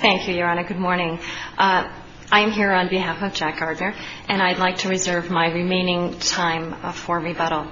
Thank you, Your Honor. Good morning. I am here on behalf of Jack Gardner, and I'd like to reserve my remaining time for rebuttal.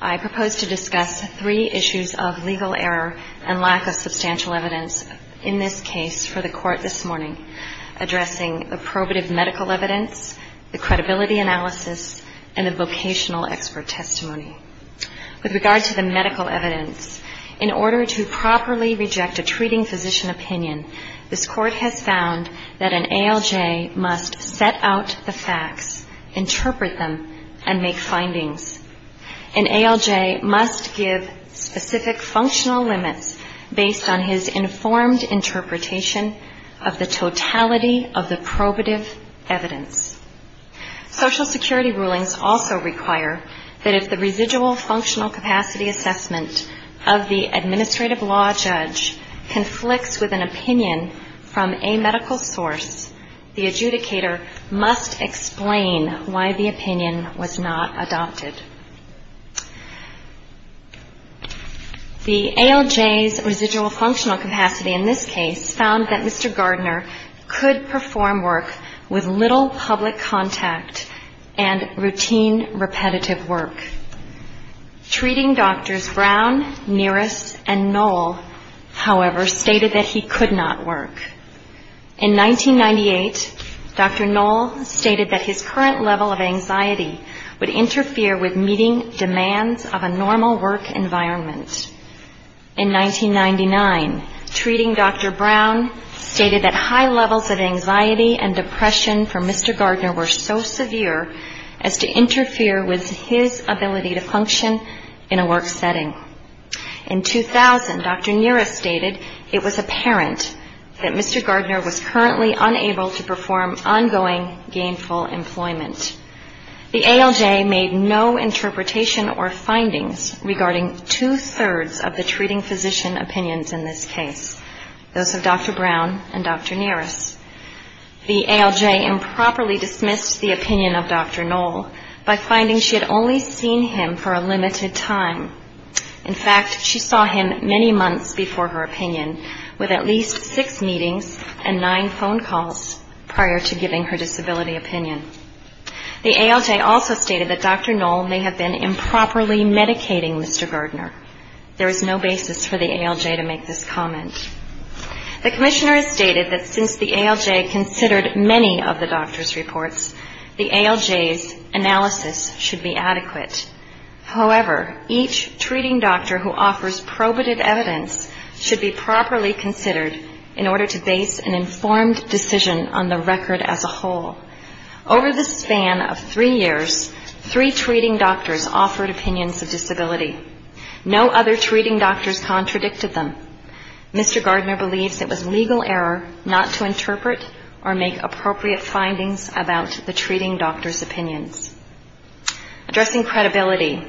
I propose to discuss three issues of legal error and lack of substantial evidence in this case for the Court this morning, addressing the probative medical evidence, the credibility analysis, and the vocational expert testimony. With regard to the medical evidence, in order to properly reject a treating physician opinion, this Court has found that an ALJ must set out the facts, interpret them, and make findings. An ALJ must give specific functional limits based on his informed interpretation of the totality of the probative evidence. Social Security rulings also require that if the residual functional capacity assessment of the administrative law judge conflicts with an opinion from a medical source, the adjudicator must explain why the opinion was not adopted. The ALJ's residual functional capacity in this case found that Mr. Gardner could perform work with little public contact and routine repetitive work. Treating doctors Brown, Nearest, and Knoll, however, stated that he could not work. In 1998, Dr. Knoll stated that his current level of anxiety would interfere with meeting demands of a normal work environment. In 1999, treating Dr. Brown stated that high levels of anxiety and depression for Mr. Gardner were so severe as to interfere with his ability to function in a work setting. In 2000, Dr. Nearest stated it was apparent that Mr. Gardner was currently unable to perform ongoing gainful employment. The ALJ made no interpretation or findings regarding two-thirds of the treating physician opinions in this case, those of Dr. Brown and Dr. Nearest. The ALJ improperly dismissed the opinion of Dr. Knoll by finding she had only seen him for a limited time. In fact, she saw him many months before her opinion, with at least six meetings and nine phone calls prior to giving her disability opinion. The ALJ also stated that Dr. Knoll may have been improperly medicating Mr. Gardner. There is no basis for the ALJ to make this comment. The Commissioner has stated that since the ALJ considered many of the doctor's reports, the ALJ's analysis should be adequate. However, each treating doctor who offers probative evidence should be properly considered in order to base an informed decision on the record as a whole. Over the span of three years, three treating doctors offered opinions of disability. No other treating doctors contradicted them. Mr. Gardner believes it was legal error not to interpret or make appropriate findings about the treating doctor's opinions. Addressing credibility,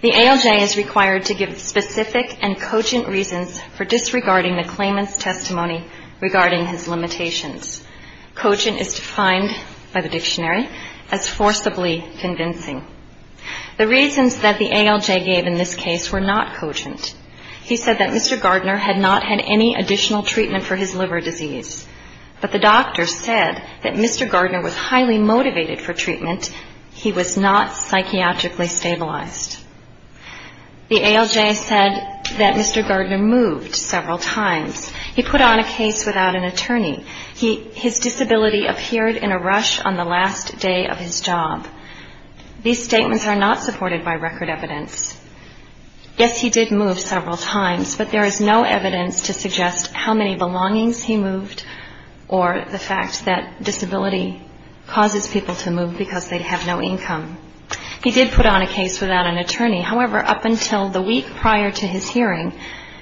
the ALJ is required to give specific and cogent reasons for disregarding the claimant's testimony regarding his limitations. Cogent is defined by the dictionary as forcibly convincing. The reasons that the ALJ gave in this case were not cogent. He said that Mr. Gardner had not had any additional treatment for his liver disease. But the doctor said that Mr. Gardner was highly motivated for treatment. He was not psychiatrically stabilized. The ALJ said that Mr. Gardner moved several times. He put on a case without an attorney. His disability appeared in a rush on the last day of his job. These statements are not supported by record evidence. Yes, he did move several times. But there is no evidence to suggest how many belongings he moved or the fact that disability causes people to move because they have no income. He did put on a case without an attorney. However, up until the week prior to his hearing,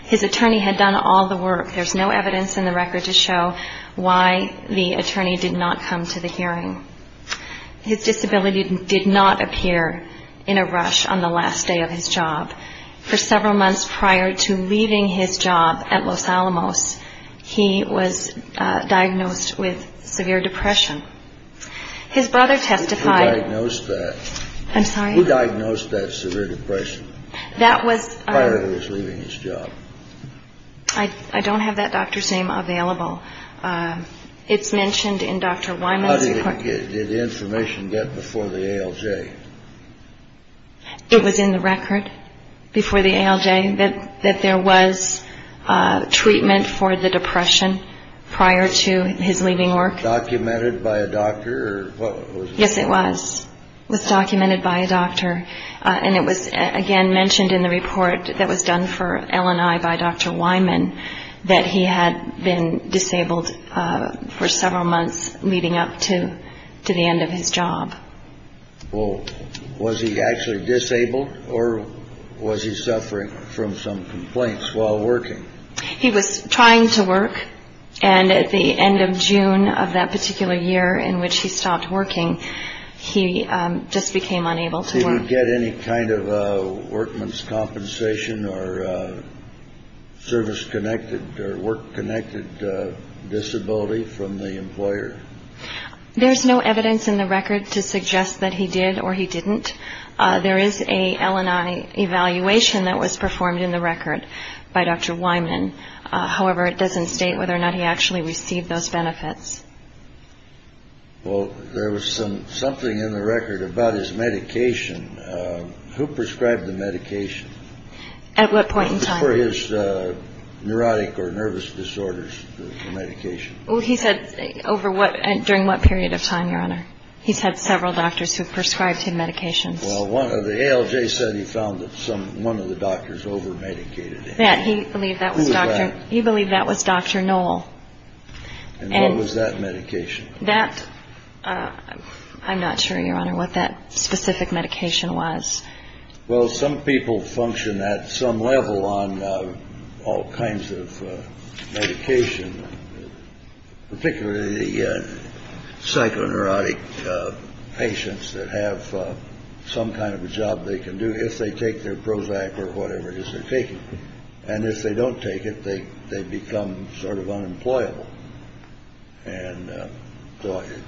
his attorney had done all the work. There's no evidence in the record to show why the attorney did not come to the hearing. His disability did not appear in a rush on the last day of his job. For several months prior to leaving his job at Los Alamos, he was diagnosed with severe depression. His brother testified. I'm sorry. Who diagnosed that severe depression? That was. Prior to his leaving his job. I don't have that doctor's name available. It's mentioned in Dr. Wyman's. Did the information get before the ALJ? It was in the record before the ALJ that that there was treatment for the depression prior to his leaving work. Documented by a doctor. Yes, it was documented by a doctor. And it was, again, mentioned in the report that was done for LNI by Dr. Wyman that he had been disabled for several months leading up to the end of his job. Well, was he actually disabled or was he suffering from some complaints while working? He was trying to work. And at the end of June of that particular year in which he stopped working, he just became unable to work. Did he get any kind of workman's compensation or service connected or work connected disability from the employer? There's no evidence in the record to suggest that he did or he didn't. There is a LNI evaluation that was performed in the record by Dr. Wyman. However, it doesn't state whether or not he actually received those benefits. Well, there was some something in the record about his medication. Who prescribed the medication at what point in time for his neurotic or nervous disorders medication? Well, he said over what and during what period of time, Your Honor? He said several doctors who prescribed him medications. Well, one of the ALJ said he found that some one of the doctors over medicated that he believed that he believed that was Dr. And what was that medication that I'm not sure, Your Honor, what that specific medication was. Well, some people function at some level on all kinds of medication, particularly the psychoneurotic patients that have some kind of a job they can do if they take their Prozac or whatever it is they're taking. And if they don't take it, they they become sort of unemployable. And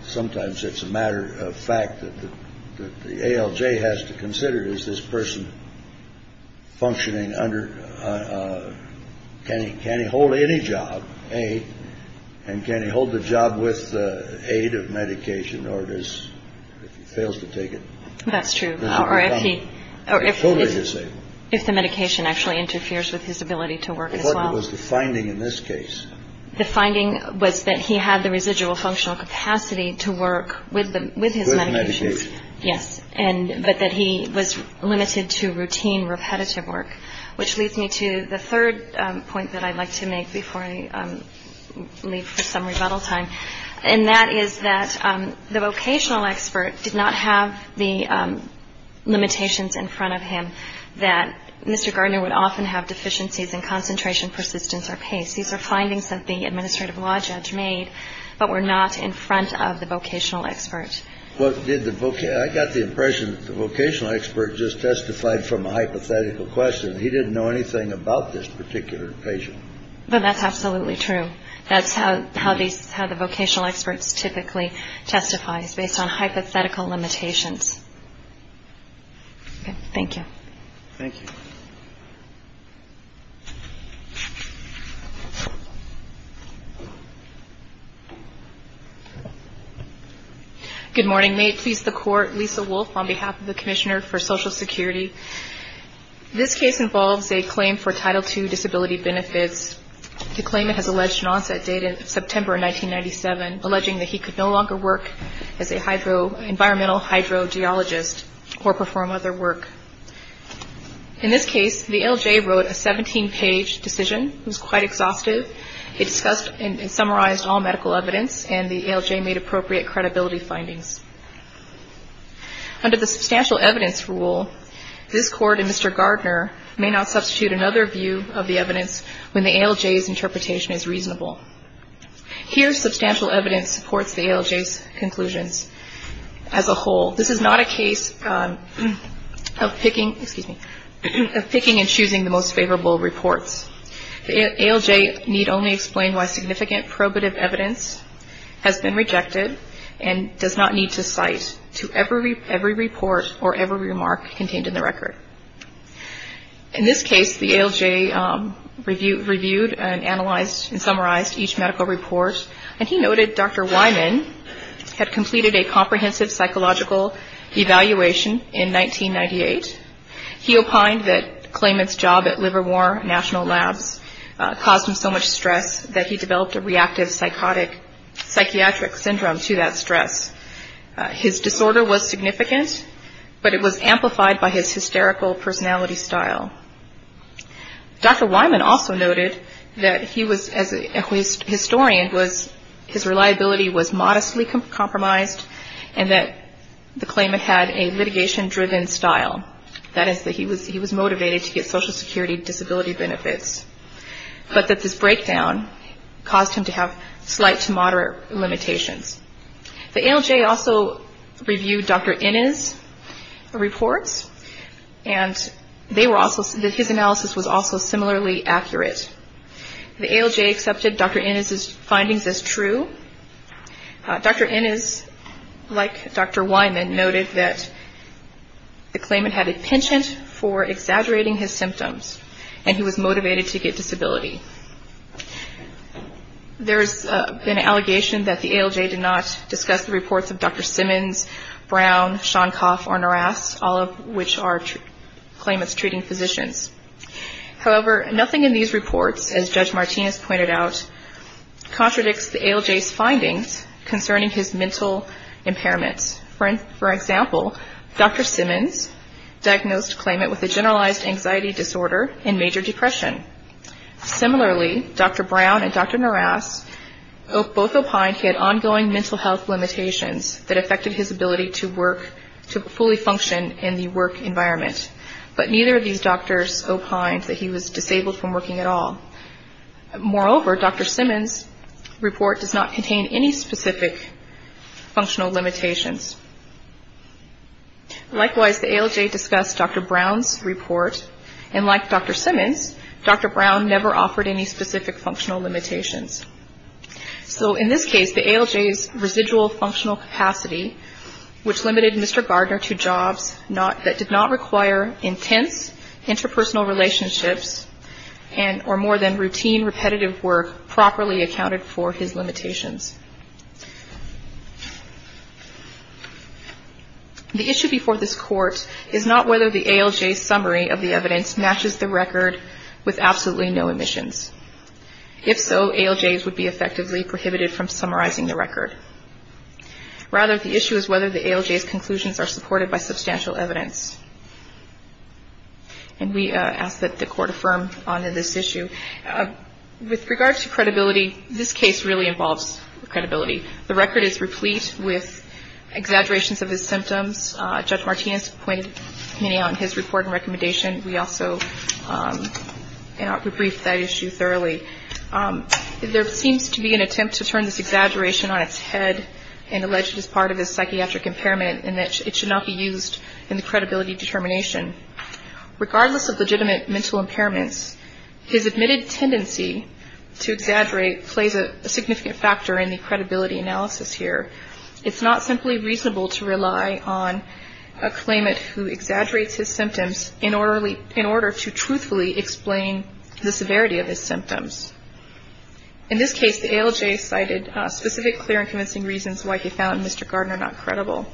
sometimes it's a matter of fact that the ALJ has to consider is this person functioning under. Can he can he hold any job? And can he hold the job with the aid of medication? If he fails to take it, that's true. Or if he is, if the medication actually interferes with his ability to work as well as the finding. In this case, the finding was that he had the residual functional capacity to work with them with his medication. Yes. And but that he was limited to routine, repetitive work, which leads me to the third point that I'd like to make before I leave for some rebuttal time. And that is that the vocational expert did not have the limitations in front of him. That Mr. Gardner would often have deficiencies in concentration, persistence or pace. These are findings that the administrative law judge made, but we're not in front of the vocational expert. What did the book? I got the impression the vocational expert just testified from a hypothetical question. He didn't know anything about this particular patient. But that's absolutely true. That's how how these how the vocational experts typically testifies based on hypothetical limitations. Thank you. Thank you. Good morning. May it please the court. Lisa Wolf on behalf of the Commissioner for Social Security. This case involves a claim for Title two disability benefits. The claimant has alleged an onset date in September 1997, alleging that he could no longer work as a hydro environmental hydro geologist or perform other work. In this case, the L.J. wrote a 17 page decision. It was quite exhaustive. It discussed and summarized all medical evidence and the L.J. made appropriate credibility findings. Under the substantial evidence rule, this court and Mr. Gardner may not substitute another view of the evidence when the L.J.'s interpretation is reasonable. Here, substantial evidence supports the L.J.'s conclusions as a whole. This is not a case of picking excuse me, picking and choosing the most favorable reports. L.J. need only explain why significant probative evidence has been rejected and does not need to cite to every every report or every remark contained in the record. In this case, the L.J. review reviewed and analyzed and summarized each medical report. And he noted Dr. Wyman had completed a comprehensive psychological evaluation in 1998. He opined that claimant's job at Livermore National Labs caused him so much stress that he developed a reactive psychotic psychiatric syndrome to that stress. His disorder was significant, but it was amplified by his hysterical personality style. Dr. Wyman also noted that he was as a historian was his reliability was modestly compromised and that the claimant had a litigation driven style. That is that he was he was motivated to get Social Security disability benefits, but that this breakdown caused him to have slight to moderate limitations. The L.J. also reviewed Dr. Innes' reports and they were also that his analysis was also similarly accurate. The L.J. accepted Dr. Innes' findings as true. Dr. Innes, like Dr. Wyman, noted that the claimant had a penchant for exaggerating his symptoms and he was motivated to get disability. There's been an allegation that the L.J. did not discuss the reports of Dr. Simmons, Brown, Shonkoff, or Naras, all of which are claimants treating physicians. However, nothing in these reports, as Judge Martinez pointed out, contradicts the L.J.'s findings concerning his mental impairments. For example, Dr. Simmons diagnosed the claimant with a generalized anxiety disorder and major depression. Similarly, Dr. Brown and Dr. Naras both opined he had ongoing mental health limitations that affected his ability to work to fully function in the work environment. But neither of these doctors opined that he was disabled from working at all. Moreover, Dr. Simmons' report does not contain any specific functional limitations. Likewise, the L.J. discussed Dr. Brown's report, and like Dr. Simmons, Dr. Brown never offered any specific functional limitations. So in this case, the L.J.'s residual functional capacity, which limited Mr. Gardner to jobs that did not require intense interpersonal relationships or more than routine repetitive work properly accounted for his limitations. The issue before this Court is not whether the L.J.'s summary of the evidence matches the record with absolutely no omissions. If so, L.J.'s would be effectively prohibited from summarizing the record. Rather, the issue is whether the L.J.'s conclusions are supported by substantial evidence. And we ask that the Court affirm on this issue. With regard to credibility, this case really involves credibility. The record is replete with exaggerations of his symptoms. Judge Martinez pointed many out in his report and recommendation. We also briefed that issue thoroughly. There seems to be an attempt to turn this exaggeration on its head and allege it is part of his psychiatric impairment and that it should not be used in the credibility determination. Regardless of legitimate mental impairments, his admitted tendency to exaggerate plays a significant factor in the credibility analysis here. It's not simply reasonable to rely on a claimant who exaggerates his symptoms in order to truthfully explain the severity of his symptoms. In this case, the ALJ cited specific, clear, and convincing reasons why he found Mr. Gardner not credible.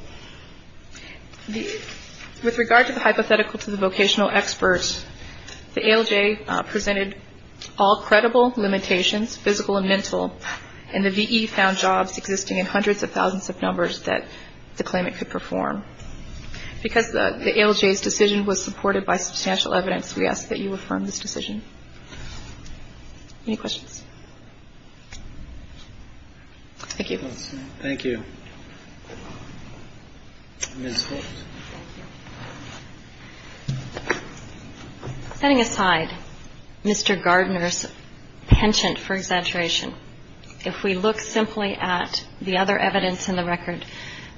With regard to the hypothetical to the vocational expert, the ALJ presented all credible limitations, physical and mental, and the V.E. found jobs existing in hundreds of thousands of numbers that the claimant could perform. Because the ALJ's decision was supported by substantial evidence, we ask that you affirm this decision. Any questions? Thank you. Thank you. Ms. Holtz. Thank you. Setting aside Mr. Gardner's penchant for exaggeration, if we look simply at the other evidence in the record,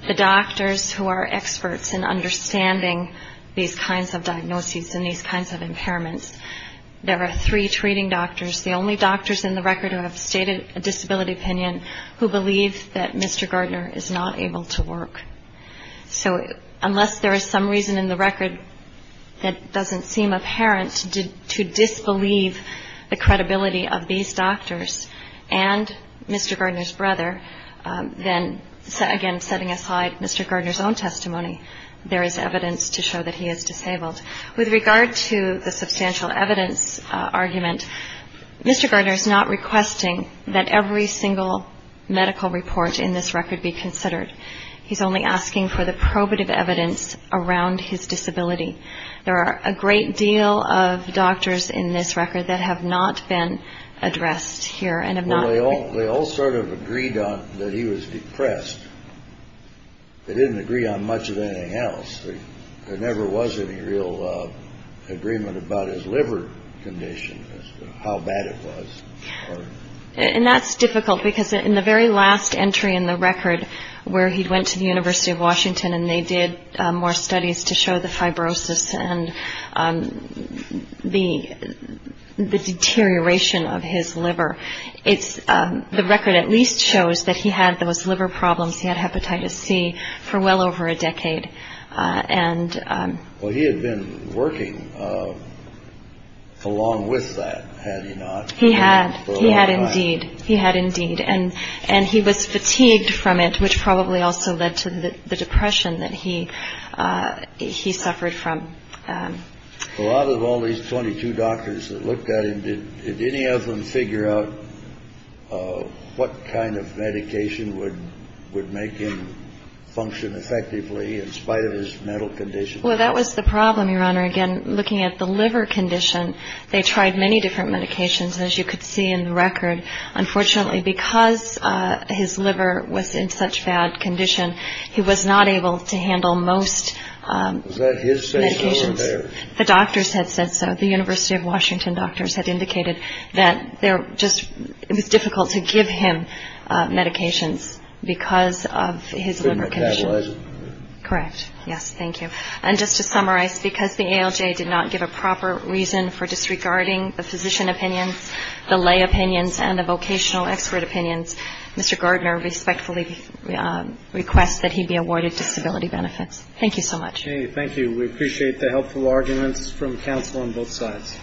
the doctors who are experts in understanding these kinds of diagnoses and these kinds of impairments, there are three treating doctors, the only doctors in the record who have stated a disability opinion, who believe that Mr. Gardner is not able to work. So unless there is some reason in the record that doesn't seem apparent to disbelieve the credibility of these doctors and Mr. Gardner's brother, then, again, setting aside Mr. Gardner's own testimony, there is evidence to show that he is disabled. With regard to the substantial evidence argument, Mr. Gardner is not requesting that every single medical report in this record be considered. He's only asking for the probative evidence around his disability. There are a great deal of doctors in this record that have not been addressed here and have not been. Agreed on that he was depressed. They didn't agree on much of anything else. There never was any real agreement about his liver condition, how bad it was. And that's difficult because in the very last entry in the record where he went to the University of Washington and they did more studies to show the fibrosis and the deterioration of his liver, it's the record at least shows that he had those liver problems. He had hepatitis C for well over a decade. And he had been working along with that. He had. He had indeed. He had indeed. And and he was fatigued from it, which probably also led to the depression that he he suffered from. Well, out of all these 22 doctors that looked at him, did any of them figure out what kind of medication would would make him function effectively in spite of his mental condition? Well, that was the problem. Your honor. Again, looking at the liver condition, they tried many different medications, as you could see in the record. Unfortunately, because his liver was in such bad condition, he was not able to handle most. So the doctors had said so. The University of Washington doctors had indicated that they're just it was difficult to give him medications because of his liver condition. Correct. Yes. Thank you. And just to summarize, because the ALJ did not give a proper reason for disregarding the physician opinions, the lay opinions and the vocational expert opinions, Mr. Gardner respectfully requests that he be awarded disability benefits. Thank you so much. Thank you. We appreciate the helpful arguments from counsel on both sides.